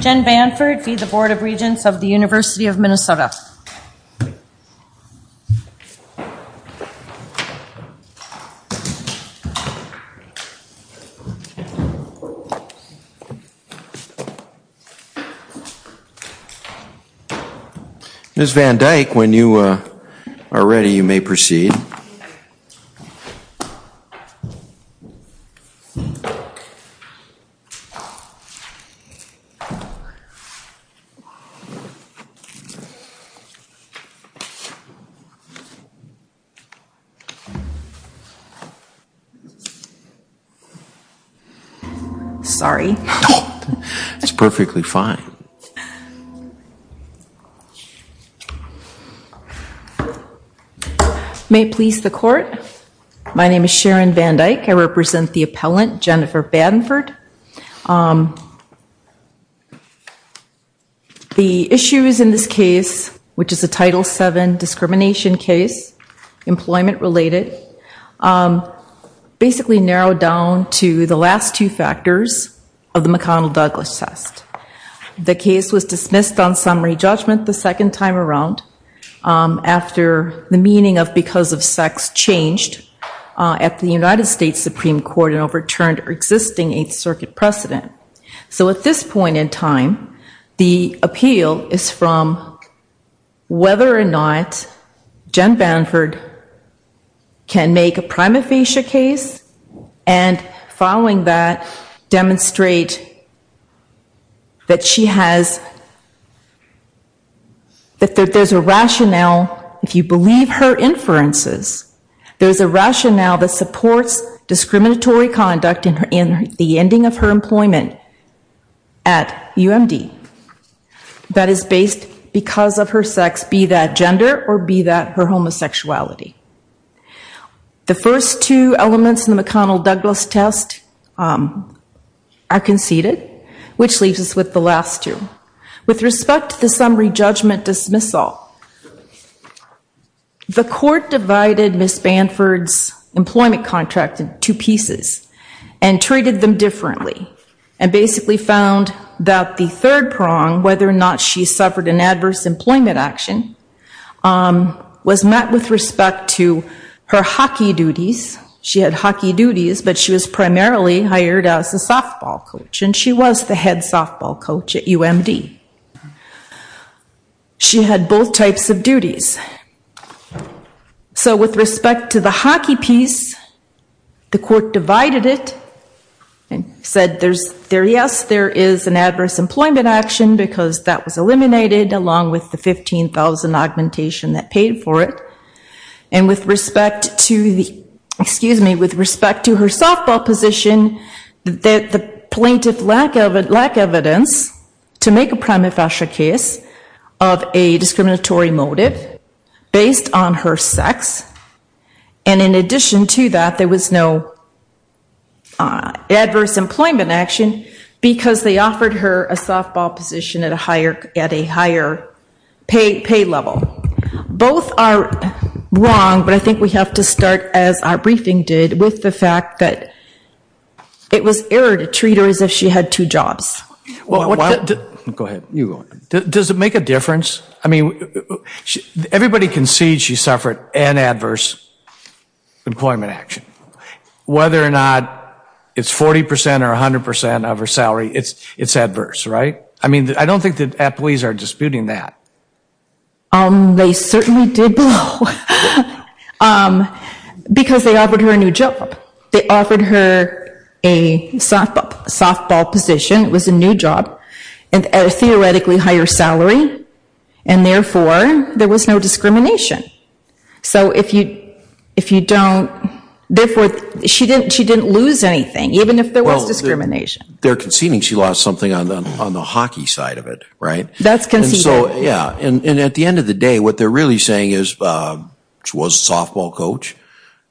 Jen Banford v. the Board of Regents of the University of Minnesota. Ms. Van Dyke, when you are ready, you may proceed. Ms. Van Dyke. Sorry. It's perfectly fine. May it please the court. My name is Sharon Van Dyke. I represent the appellant, Jennifer Banford. The issues in this case, which is a Title VII discrimination case, employment-related, basically narrowed down to the last two factors of the McConnell-Douglas test. The case was dismissed on summary judgment the second time around after the meaning of because of sex changed at the United States Supreme Court and overturned existing Eighth Circuit precedent. So at this point in time, the appeal is from whether or not Jen Banford can make a prima facie case and following that, demonstrate that she has, that there's a rationale, if you believe her inferences, there's a rationale that supports discriminatory conduct in the ending of her employment at UMD that is based because of her sex, be that gender or be that her homosexuality. The first two elements in the McConnell-Douglas test are conceded, which leaves us with the last two. With respect to the summary judgment dismissal, the court divided Ms. Banford's employment contract in two pieces and treated them differently and basically found that the third prong, whether or not she suffered an adverse employment action, was met with respect to her hockey duties. She had hockey duties, but she was primarily hired as a softball coach and she was the head softball coach at UMD. She had both types of duties. So with respect to the hockey piece, the court divided it and said yes, there is an adverse employment action because that was eliminated along with the 15,000 augmentation that paid for it and with respect to the, excuse me, with respect to her softball position, that the plaintiff lacked evidence to make a prima facie case of a discriminatory motive based on her sex and in addition to that, there was no adverse employment action because they offered her a softball position at a higher pay level. Both are wrong, but I think we have to start as our briefing did with the fact that it was error to treat her as if she had two jobs. Well, go ahead, you go ahead. Does it make a difference? I mean, everybody can see she suffered an adverse employment action. Whether or not it's 40% or 100% of her salary, it's adverse, right? I mean, I don't think that employees are disputing that. They certainly did blow because they offered her a new job. They offered her a softball position, it was a new job at a theoretically higher salary and therefore, there was no discrimination. So if you don't, therefore, she didn't lose anything even if there was discrimination. They're conceding she lost something on the hockey side of it, right? That's conceded. And so, yeah, and at the end of the day, what they're really saying is she was a softball coach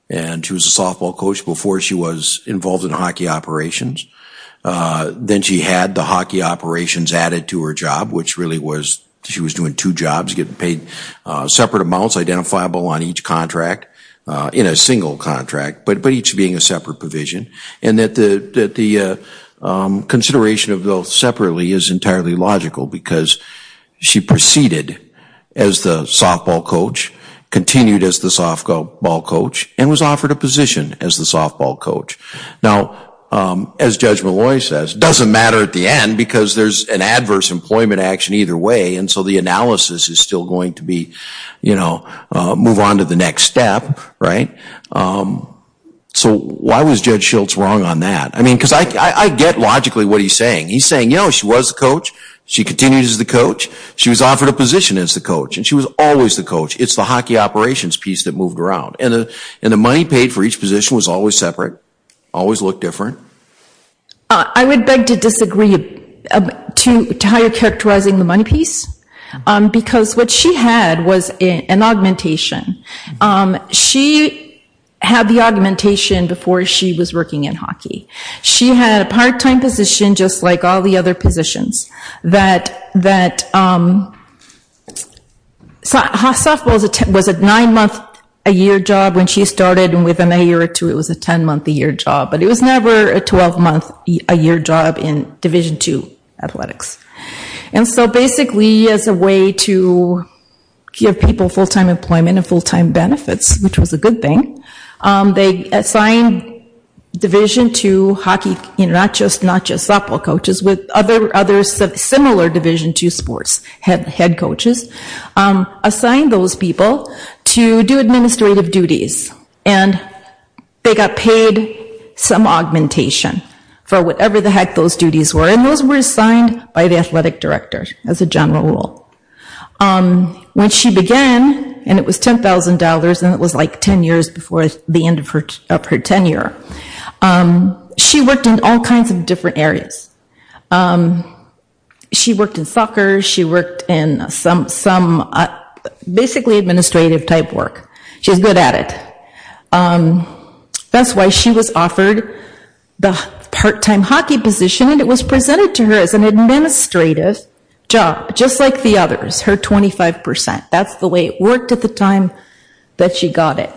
and she was a softball coach before she was involved in hockey operations. Then she had the hockey operations added to her job, which really was, she was doing two jobs, getting paid separate amounts, identifiable on each contract, in a single contract, but each being a separate provision. And that the consideration of those separately is entirely logical because she proceeded as the softball coach, continued as the softball coach, and was offered a position as the softball coach. Now, as Judge Malloy says, doesn't matter at the end because there's an adverse employment action either way and so the analysis is still going to be, move on to the next step, right? So why was Judge Schultz wrong on that? I mean, because I get logically what he's saying. He's saying, you know, she was the coach, she continues as the coach, she was offered a position as the coach and she was always the coach. It's the hockey operations piece that moved around. And the money paid for each position was always separate, always looked different. I would beg to disagree to how you're characterizing the money piece because what she had was an augmentation. She had the augmentation before she was working in hockey. She had a part-time position just like all the other positions that, her softball was a nine-month-a-year job when she started and within a year or two, it was a 10-month-a-year job. But it was never a 12-month-a-year job in Division II athletics. And so basically, as a way to give people full-time employment and full-time benefits, which was a good thing, they assigned Division II hockey, not just softball coaches, but other similar Division II sports head coaches, assigned those people to do administrative duties. And they got paid some augmentation for whatever the heck those duties were. And those were assigned by the athletic director as a general rule. When she began, and it was $10,000, and it was like 10 years before the end of her tenure, she worked in all kinds of different areas. She worked in soccer. She worked in some basically administrative-type work. She was good at it. That's why she was offered the part-time hockey position, and it was presented to her as an administrative job, just like the others, her 25%. That's the way it worked at the time that she got it.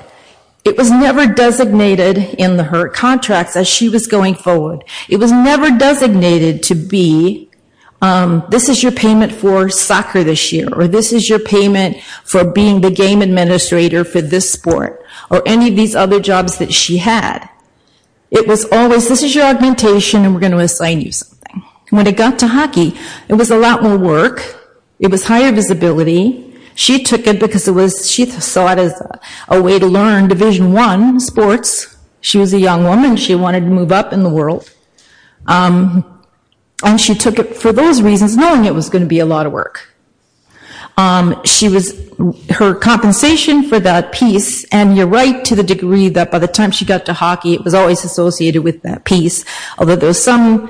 It was never designated in her contracts as she was going forward. It was never designated to be, this is your payment for soccer this year, or this is your payment for being the game administrator for this sport, or any of these other jobs that she had. It was always, this is your augmentation, and we're gonna assign you something. When it got to hockey, it was a lot more work. It was higher visibility. She took it because it was, she saw it as a way to learn Division I sports. She was a young woman. She wanted to move up in the world, and she took it for those reasons, knowing it was gonna be a lot of work. She was, her compensation for that piece, and you're right to the degree that by the time she got to hockey, it was always associated with that piece, although there's some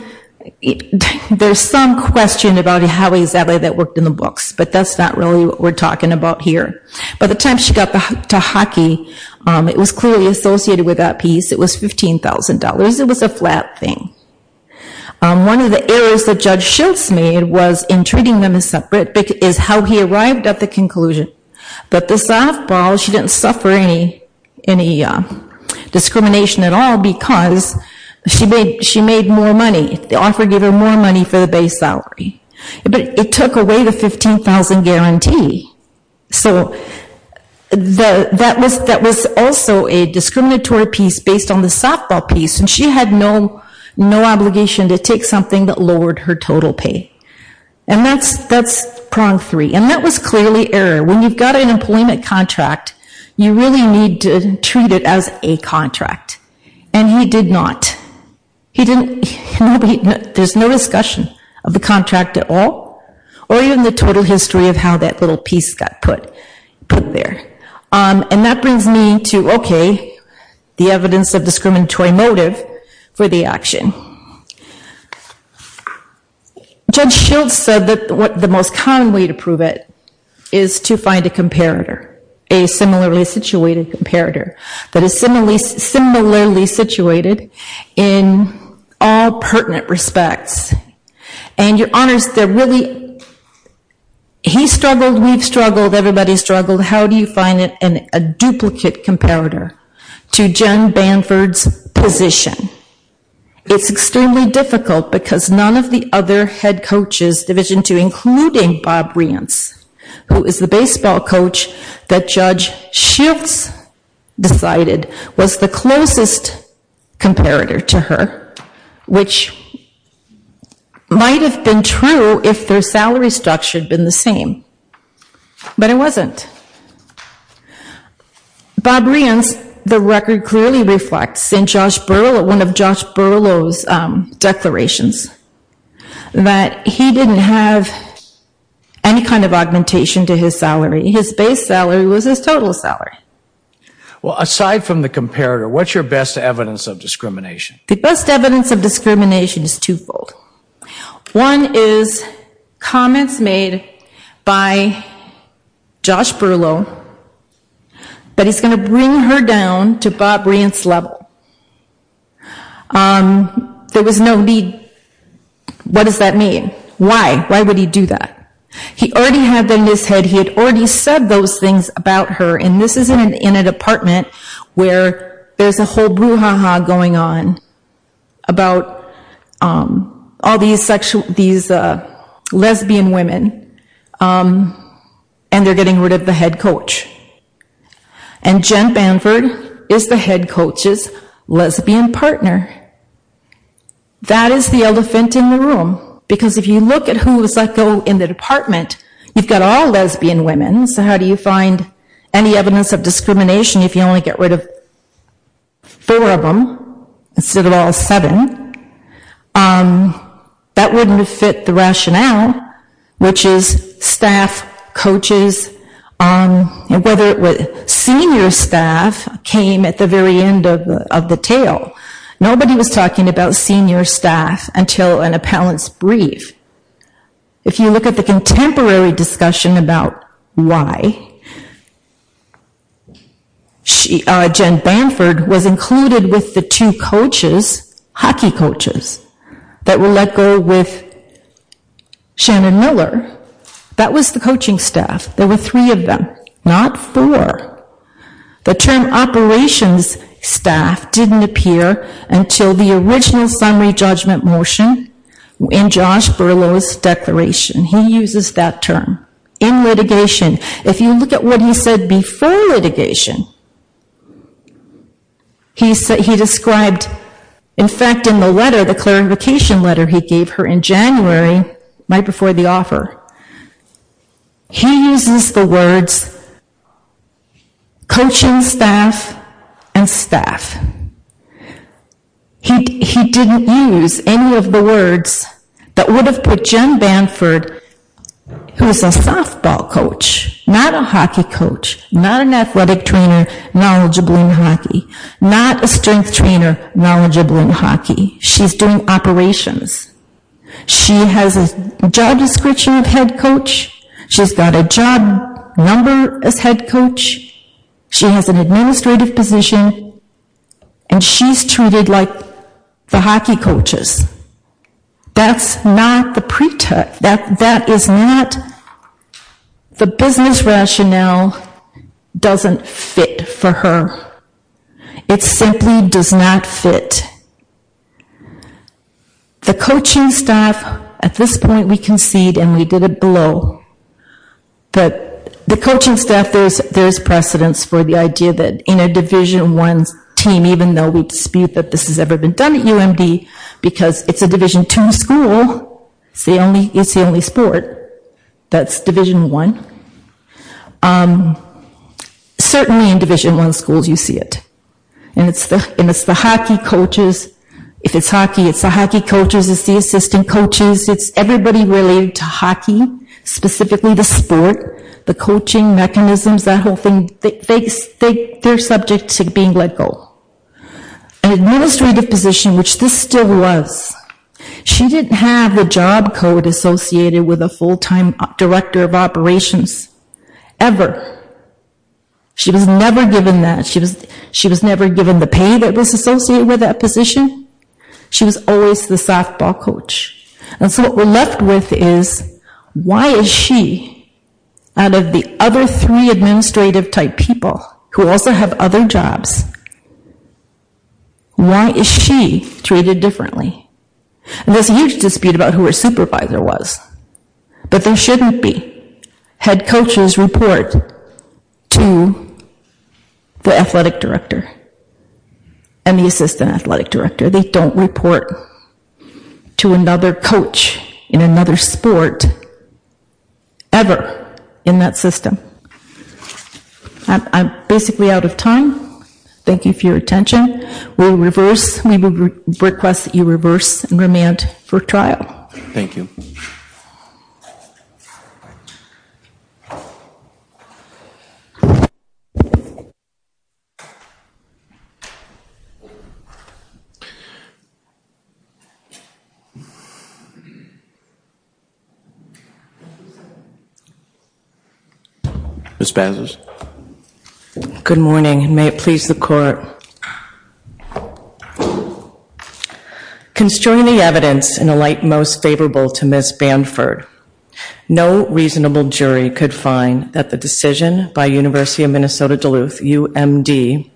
question about how exactly that worked in the books, but that's not really what we're talking about here, but by the time she got to hockey, it was clearly associated with that piece. It was $15,000. It was a flat thing. One of the errors that Judge Schultz made was in treating them as separate, is how he arrived at the conclusion, but the softball, she didn't suffer any discrimination at all because she made more money. The offer gave her more money for the base salary, but it took away the $15,000 guarantee, so that was also a discriminatory piece based on the softball piece, and she had no obligation to take something that lowered her total pay, and that's prong three, and that was clearly error. When you've got an employment contract, you really need to treat it as a contract, and he did not. He didn't, there's no discussion of the contract at all, or even the total history of how that little piece got put there, and that brings me to, okay, the evidence of discriminatory motive for the action. Judge Schultz said that the most common way to prove it is to find a comparator, a similarly situated comparator that is similarly situated in all pertinent respects, and your honors, they're really, he struggled, we've struggled, everybody's struggled, how do you find a duplicate comparator to Jen Banford's position? It's extremely difficult because none of the other head coaches, Division II, including Bob Rience, who is the baseball coach that Judge Schultz decided was the closest comparator to her, which might have been true if their salary structure had been the same, but it wasn't. Bob Rience, the record clearly reflects, in one of Josh Berlow's declarations, that he didn't have any kind of augmentation to his salary. His base salary was his total salary. Well, aside from the comparator, what's your best evidence of discrimination? The best evidence of discrimination is twofold. One is comments made by Josh Berlow that he's gonna bring her down to Bob Rience's level. There was no need, what does that mean? Why, why would he do that? He already had them in his head, he had already said those things about her, and this is in a department where there's a whole brouhaha going on about all these lesbian women, and they're getting rid of the head coach, and Jen Banford is the head coach's lesbian partner. That is the elephant in the room, because if you look at who was let go in the department, you've got all lesbian women, so how do you find any evidence of discrimination if you only get rid of four of them instead of all seven? That wouldn't have fit the rationale, which is staff, coaches, whether it was senior staff came at the very end of the tale. Nobody was talking about senior staff until an appellant's brief. If you look at the contemporary discussion about why, Jen Banford was included with the two coaches, hockey coaches that were let go with Shannon Miller, that was the coaching staff, there were three of them, not four. The term operations staff didn't appear until the original summary judgment motion in Josh Berlow's declaration, he uses that term in litigation. If you look at what he said before litigation, he described, in fact, in the letter, the clarification letter he gave her in January, right before the offer, he uses the words coaching staff and staff. He didn't use any of the words that would have put Jen Banford, who's a softball coach, not a hockey coach, not an athletic trainer knowledgeable in hockey, not a strength trainer knowledgeable in hockey, she's doing operations. She has a job description of head coach, she's got a job number as head coach, she has an administrative position, and she's treated like the hockey coaches. That's not the pretext, that is not, the business rationale doesn't fit for her. It simply does not fit. The coaching staff, at this point we concede and we did it below, that the coaching staff, there's precedence for the idea that in a division one team, even though we dispute that this has ever been done at UMD, because it's a division two school, it's the only sport, that's division one, certainly in division one schools you see it. And it's the hockey coaches, if it's hockey, it's the hockey coaches, it's the assistant coaches, it's everybody related to hockey, specifically the sport, the coaching mechanisms, that whole thing, they're subject to being let go. An administrative position, which this still was, she didn't have the job code associated with a full-time director of operations, ever. She was never given that, she was never given the pay that was associated with that position, she was always the softball coach. And so what we're left with is, why is she, out of the other three administrative type people who also have other jobs, why is she treated differently? And there's a huge dispute about who her supervisor was, but there shouldn't be. Head coaches report to the athletic director and the assistant athletic director, they don't report to another coach in another sport, ever, in that system. So, I'm basically out of time. Thank you for your attention. We'll reverse, we request that you reverse and remand for trial. Thank you. Ms. Banzas. Good morning, may it please the court. Construing the evidence in a light most favorable to Ms. Banford, no reasonable jury could find that the decision by University of Minnesota Duluth, UMD,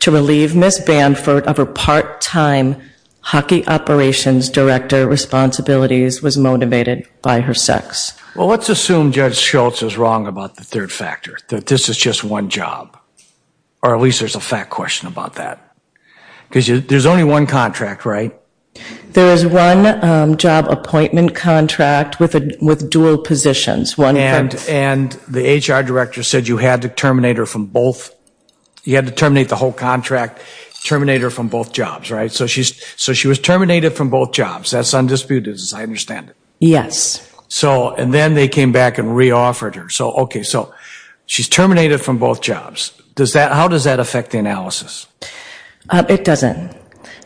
to relieve Ms. Banford of her part-time hockey operations director responsibilities was motivated by her sex. Well, let's assume Judge Schultz is wrong about the third factor, that this is just one job. Or at least there's a fact question about that. Because there's only one contract, right? There is one job appointment contract with dual positions, one from. And the HR director said you had to terminate her from both, you had to terminate the whole contract, terminate her from both jobs, right? So she was terminated from both jobs, that's undisputed as I understand it. Yes. So, and then they came back and re-offered her. So, okay, so she's terminated from both jobs. Does that, how does that affect the analysis? It doesn't.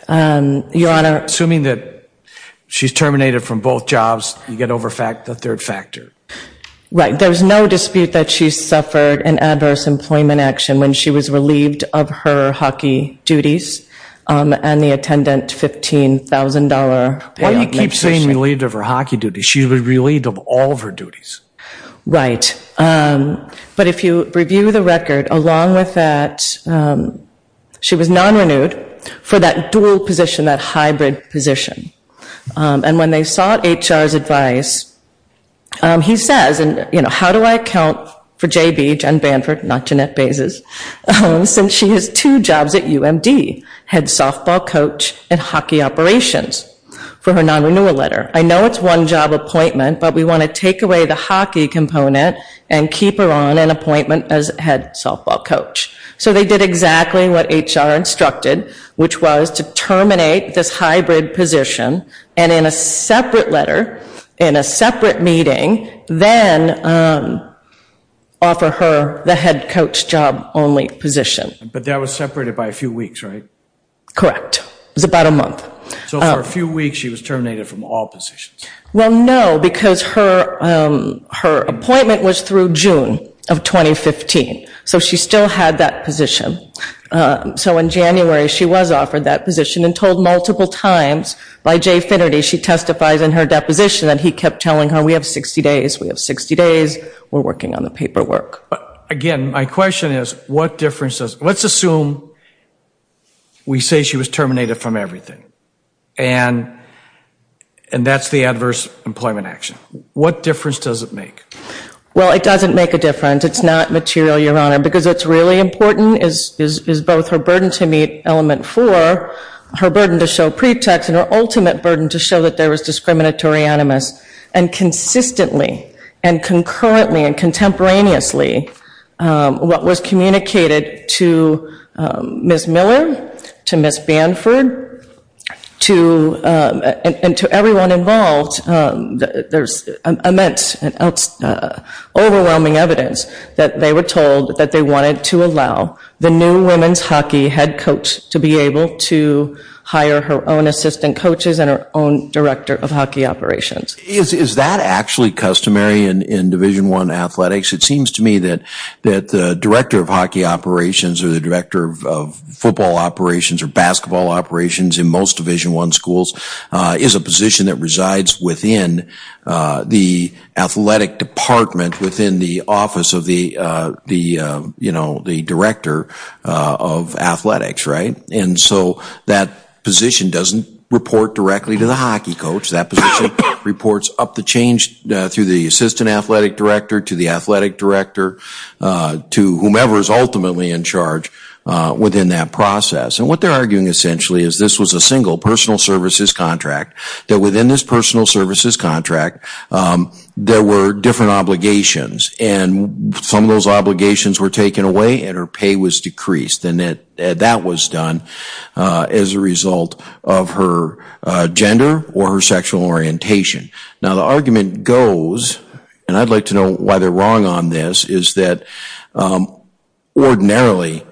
Your Honor. Assuming that she's terminated from both jobs, you get over the third factor. Right, there's no dispute that she suffered an adverse employment action when she was relieved of her hockey duties and the attendant $15,000. She was relieved of all of her duties. Right, but if you review the record, along with that, she was non-renewed for that dual position, that hybrid position. And when they sought HR's advice, he says, and you know, how do I account for J.B., Jen Banford, not Jeanette Bazes, since she has two jobs at UMD, head softball coach and hockey operations for her non-renewal letter. I know it's one job appointment, but we want to take away the hockey component and keep her on an appointment as head softball coach. So they did exactly what HR instructed, which was to terminate this hybrid position and in a separate letter, in a separate meeting, then offer her the head coach job only position. But that was separated by a few weeks, right? Correct, it was about a month. So for a few weeks, she was terminated from all positions. Well, no, because her appointment was through June of 2015. So she still had that position. So in January, she was offered that position and told multiple times by Jay Finnerty, she testifies in her deposition that he kept telling her, we have 60 days, we have 60 days, we're working on the paperwork. Again, my question is, what difference does, let's assume we say she was terminated from everything. And that's the adverse employment action. What difference does it make? Well, it doesn't make a difference. It's not material, Your Honor, because what's really important is both her burden to meet element four, her burden to show pretext and her ultimate burden to show that there was discriminatory animus. And consistently and concurrently and contemporaneously, what was communicated to Ms. Miller, to Ms. Banford, to, and to everyone involved, there's immense and overwhelming evidence that they were told that they wanted to allow the new women's hockey head coach to be able to hire her own assistant coaches and her own director of hockey operations. Is that actually customary in Division I athletics? It seems to me that the director of hockey operations or the director of football operations or basketball operations in most Division I schools is a position that resides within the athletic department within the office of the director of athletics, right? And so that position doesn't report directly to the hockey coach. That position reports up the change through the assistant athletic director to the athletic director to whomever is ultimately in charge within that process. And what they're arguing essentially is this was a single personal services contract that within this personal services contract there were different obligations and some of those obligations were taken away and her pay was decreased. And that was done as a result of her gender or her sexual orientation. Now the argument goes, and I'd like to know why they're wrong on this, is that ordinarily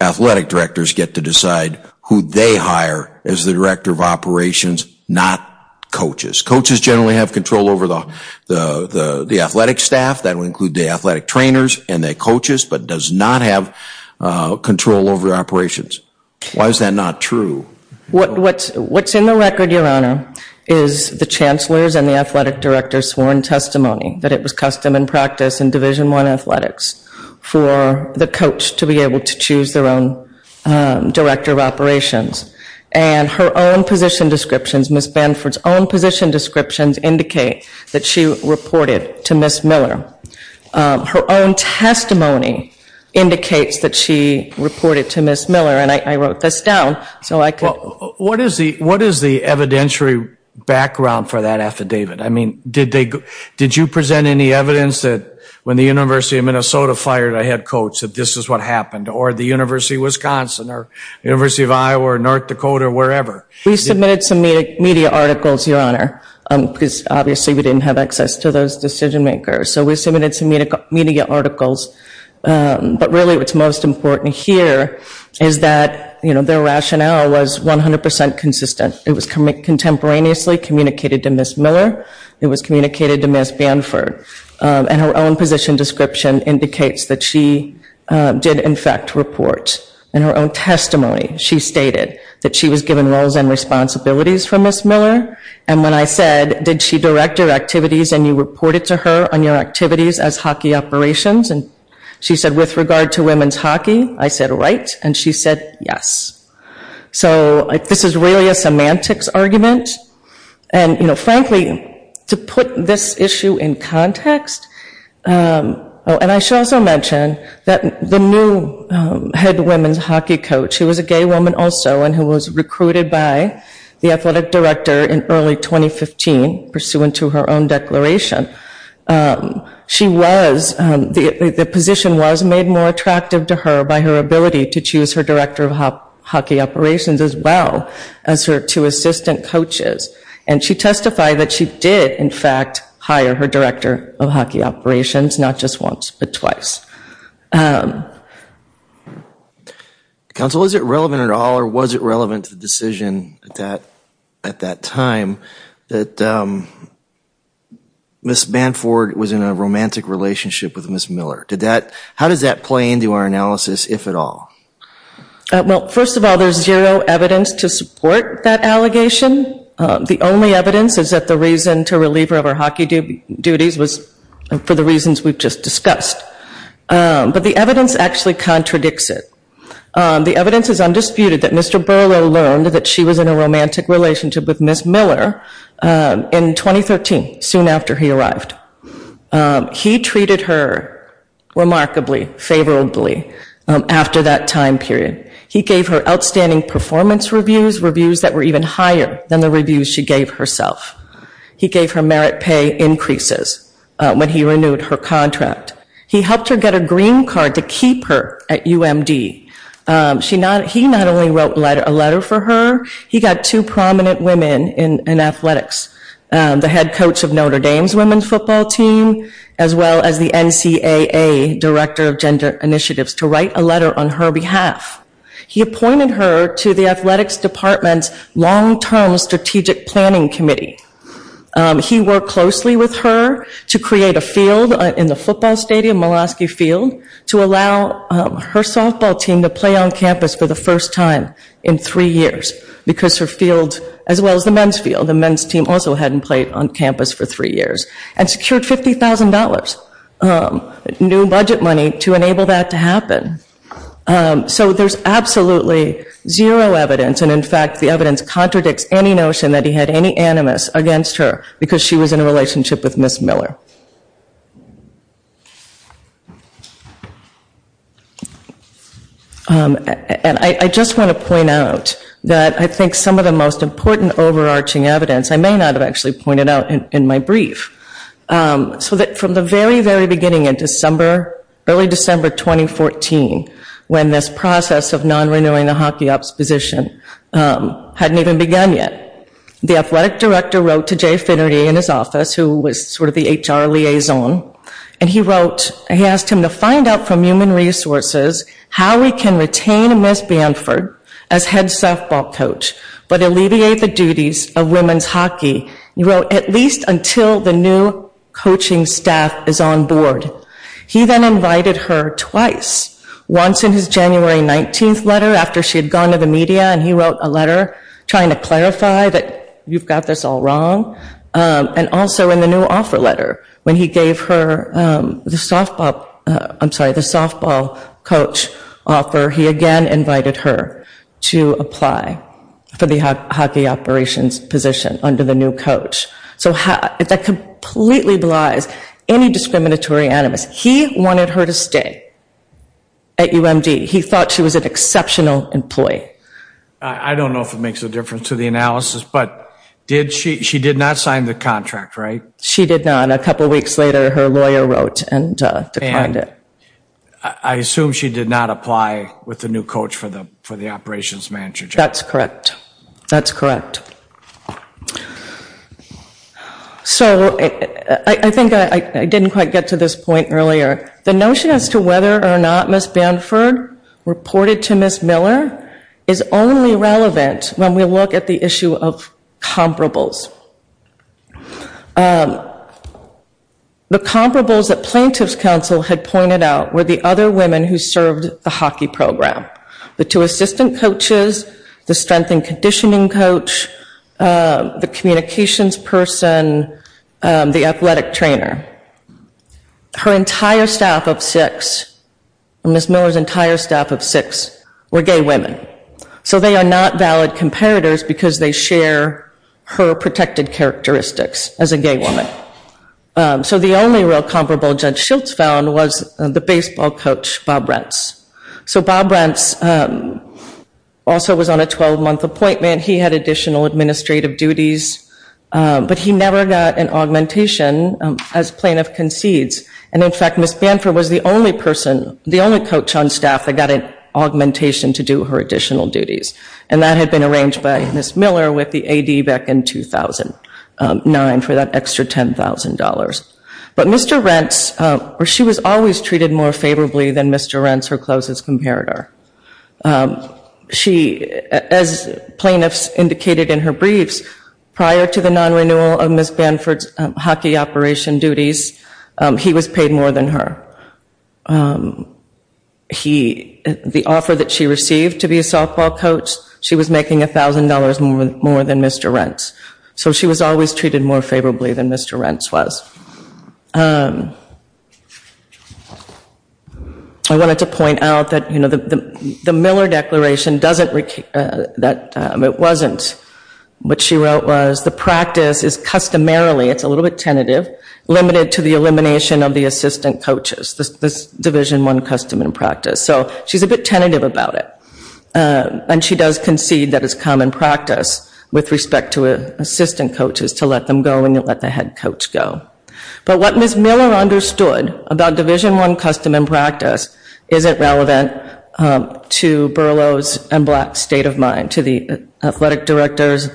athletic directors get to decide who they hire as the director of operations, not coaches. Coaches generally have control over the athletic staff. That would include the athletic trainers and the coaches, but does not have control over operations. Why is that not true? What's in the record, your honor, is the chancellor's and the athletic director's sworn testimony that it was custom and practice in Division I athletics for the coach to be able to choose their own director of operations. And her own position descriptions, Ms. Benford's own position descriptions indicate that she reported to Ms. Miller. Her own testimony indicates that she reported to Ms. Miller and I wrote this down so I could. What is the evidentiary background for that affidavit? I mean, did you present any evidence that when the University of Minnesota fired a head coach that this is what happened, or the University of Wisconsin, or University of Iowa, or North Dakota, or wherever? We submitted some media articles, your honor, because obviously we didn't have access to those decision makers. So we submitted some media articles, but really what's most important here is that their rationale was 100% consistent. It was contemporaneously communicated to Ms. Miller. It was communicated to Ms. Benford. And her own position description indicates that she did, in fact, report. In her own testimony, she stated that she was given roles and responsibilities from Ms. Miller. And when I said, did she direct your activities and you reported to her on your activities as hockey operations? And she said, with regard to women's hockey, I said, right. And she said, yes. So this is really a semantics argument. And frankly, to put this issue in context, and I should also mention that the new head women's hockey coach, who was a gay woman also, and who was recruited by the athletic director in early 2015, pursuant to her own declaration, she was, the position was made more attractive to her by her ability to choose her director of hockey operations as well as her two assistant coaches. And she testified that she did, in fact, hire her director of hockey operations, not just once, but twice. Counsel, is it relevant at all, or was it relevant to the decision at that time that Ms. Manford was in a romantic relationship with Ms. Miller? How does that play into our analysis, if at all? Well, first of all, there's zero evidence to support that allegation. The only evidence is that the reason to relieve her of her hockey duties was for the reasons we've just discussed. But the evidence actually contradicts it. The evidence is undisputed that Mr. Berlow learned that she was in a romantic relationship with Ms. Miller in 2013, soon after he arrived. He treated her remarkably, favorably, after that time period. He gave her outstanding performance reviews, reviews that were even higher than the reviews she gave herself. He gave her merit pay increases when he renewed her contract. He helped her get a green card to keep her at UMD. He not only wrote a letter for her, he got two prominent women in athletics, the head coach of Notre Dame's women's football team, as well as the NCAA director of gender initiatives to write a letter on her behalf. He appointed her to the athletics department's long-term strategic planning committee. He worked closely with her to create a field in the football stadium, Mulaski Field, to allow her softball team to play on campus for the first time in three years, because her field, as well as the men's field, the men's team also hadn't played on campus for three years, and secured $50,000 new budget money to enable that to happen. So there's absolutely zero evidence, and in fact, the evidence contradicts any notion that he had any animus against her, because she was in a relationship with Ms. Miller. I just want to point out that I think some of the most important overarching evidence, I may not have actually pointed out in my brief, so that from the very, very beginning in December, early December 2014, when this process of non-renewing the hockey ops position hadn't even begun yet, the athletic director wrote to Jay Finnerty in his office, who was sort of the HR liaison, and he wrote, he asked him to find out from human resources how we can retain Ms. Banford as head softball coach, but alleviate the duties of women's hockey, he wrote, at least until the new coaching staff is on board. He then invited her twice, once in his January 19th letter, after she had gone to the media, and he wrote a letter trying to clarify that you've got this all wrong, and also in the new offer letter, when he gave her the softball, I'm sorry, the softball coach offer, he again invited her to apply for the hockey operations position under the new coach. So that completely belies any discriminatory animus. He wanted her to stay at UMD. He thought she was an exceptional employee. I don't know if it makes a difference to the analysis, but she did not sign the contract, right? She did not, a couple weeks later, her lawyer wrote and declined it. I assume she did not apply with the new coach for the operations manager job. That's correct, that's correct. So, I think I didn't quite get to this point earlier. The notion as to whether or not Ms. Bamford reported to Ms. Miller is only relevant when we look at the issue of comparables. The comparables that plaintiff's counsel had pointed out were the other women who served the hockey program. The two assistant coaches, the strength and conditioning coach, the communications person, the athletic trainer. Her entire staff of six, Ms. Miller's entire staff of six were gay women. So they are not valid comparators because they share her protected characteristics as a gay woman. So the only real comparable Judge Schiltz found was the baseball coach, Bob Rents. So Bob Rents also was on a 12 month appointment. He had additional administrative duties, but he never got an augmentation as plaintiff concedes. And in fact, Ms. Bamford was the only person, the only coach on staff that got an augmentation to do her additional duties. And that had been arranged by Ms. Miller with the AD back in 2009 for that extra $10,000. But Mr. Rents, she was always treated more favorably than Mr. Rents, her closest comparator. She, as plaintiffs indicated in her briefs, prior to the non-renewal of Ms. Bamford's hockey operation duties, he was paid more than her. He, the offer that she received to be a softball coach, she was making $1,000 more than Mr. Rents. So she was always treated more favorably than Mr. Rents was. I wanted to point out that the Miller declaration doesn't, it wasn't, what she wrote was, the practice is customarily, it's a little bit tentative, limited to the elimination of the assistant coaches, this division one custom and practice. So she's a bit tentative about it. And she does concede that it's common practice with respect to assistant coaches to let them go and let the head coach go. But what Ms. Miller understood about division one custom and practice isn't relevant to Berlow's and Black's state of mind, to the athletic director's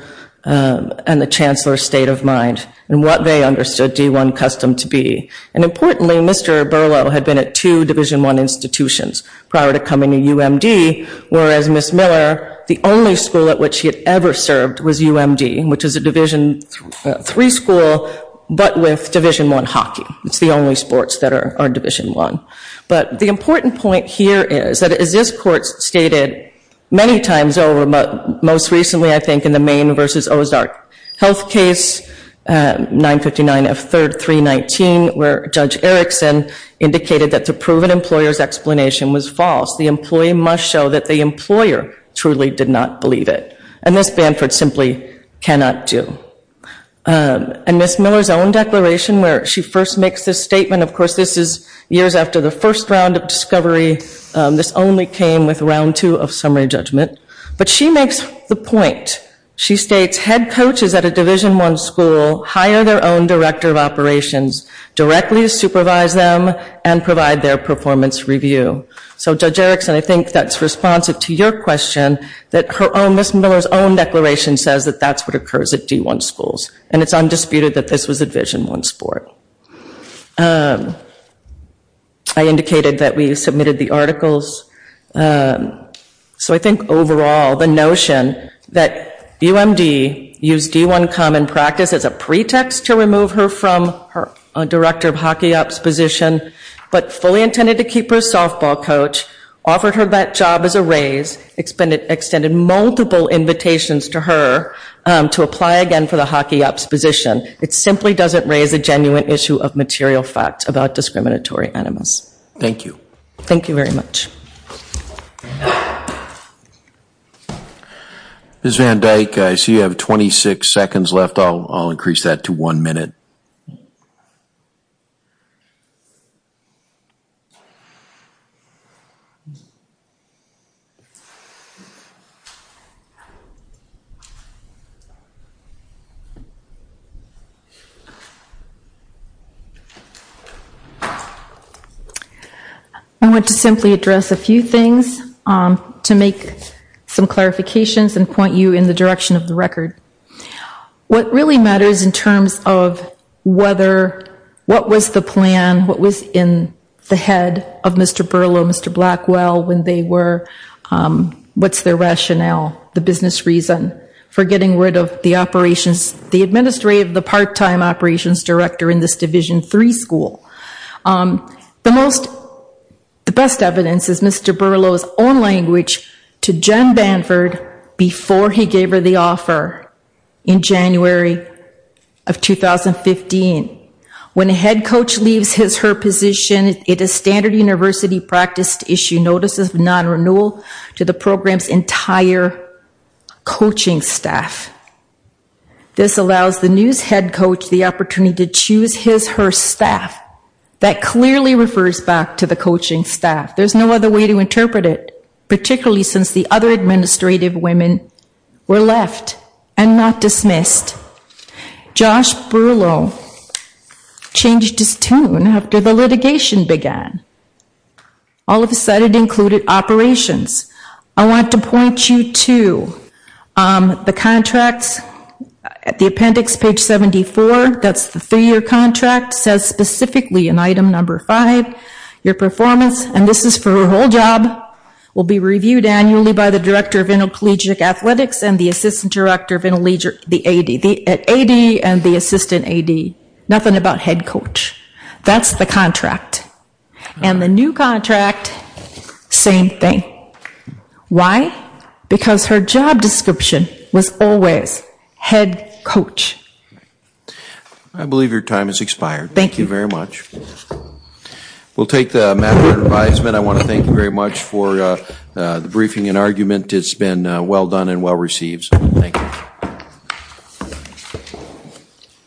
and the chancellor's state of mind, and what they understood D1 custom to be. And importantly, Mr. Berlow had been at two division one institutions prior to coming to UMD, whereas Ms. Miller, the only school at which she had ever served was UMD, which is a division three school, but with division one hockey. It's the only sports that are division one. But the important point here is, that as this court stated many times over, most recently I think in the Maine versus Ozark Health case, 959 F3rd 319, where Judge Erickson indicated that the proven employer's explanation was false. The employee must show that the employer truly did not believe it. And Ms. Banford simply cannot do. And Ms. Miller's own declaration, where she first makes this statement, of course this is years after the first round of discovery. This only came with round two of summary judgment. But she makes the point. She states, head coaches at a division one school hire their own director of operations, directly supervise them, and provide their performance review. So Judge Erickson, I think that's responsive to your question, that Ms. Miller's own declaration says that that's what occurs at D1 schools. And it's undisputed that this was a division one sport. I indicated that we submitted the articles. So I think overall, the notion that UMD used D1 common practice as a pretext to remove her from her director of hockey ops position, but fully intended to keep her a softball coach, offered her that job as a raise, extended multiple invitations to her to apply again for the hockey ops position. It simply doesn't raise a genuine issue of material facts about discriminatory animals. Thank you. Thank you very much. Ms. Van Dyke, I see you have 26 seconds left. I'll increase that to one minute. Thank you. I want to simply address a few things to make some clarifications and point you in the direction of the record. What really matters in terms of whether, what was the plan, what was in the head of Mr. Burlow, Mr. Blackwell, when they were, what's their rationale, the business reason for getting rid of the operations, the administrative, the part-time operations director in this division three school. The most, the best evidence is Mr. Burlow's own language to Jen Banford before he gave her the offer in January of 2015. When a head coach leaves her position, it is standard university practice to issue notices of non-renewal to the program's entire coaching staff. This allows the news head coach the opportunity to choose his, her staff. That clearly refers back to the coaching staff. There's no other way to interpret it, particularly since the other administrative women were left and not dismissed. Josh Burlow changed his tune after the litigation began. All of a sudden, it included operations. I want to point you to the contracts at the appendix, page 74, that's the three-year contract, says specifically in item number five, your performance, and this is for her whole job, will be reviewed annually by the director of intercollegiate athletics and the assistant director of the AD, AD and the assistant AD. Nothing about head coach. That's the contract. And the new contract, same thing. Why? Because her job description was always head coach. I believe your time has expired. Thank you very much. We'll take the matter at advisement. I want to thank you very much for the briefing and argument, it's been well done and well received. Thank you.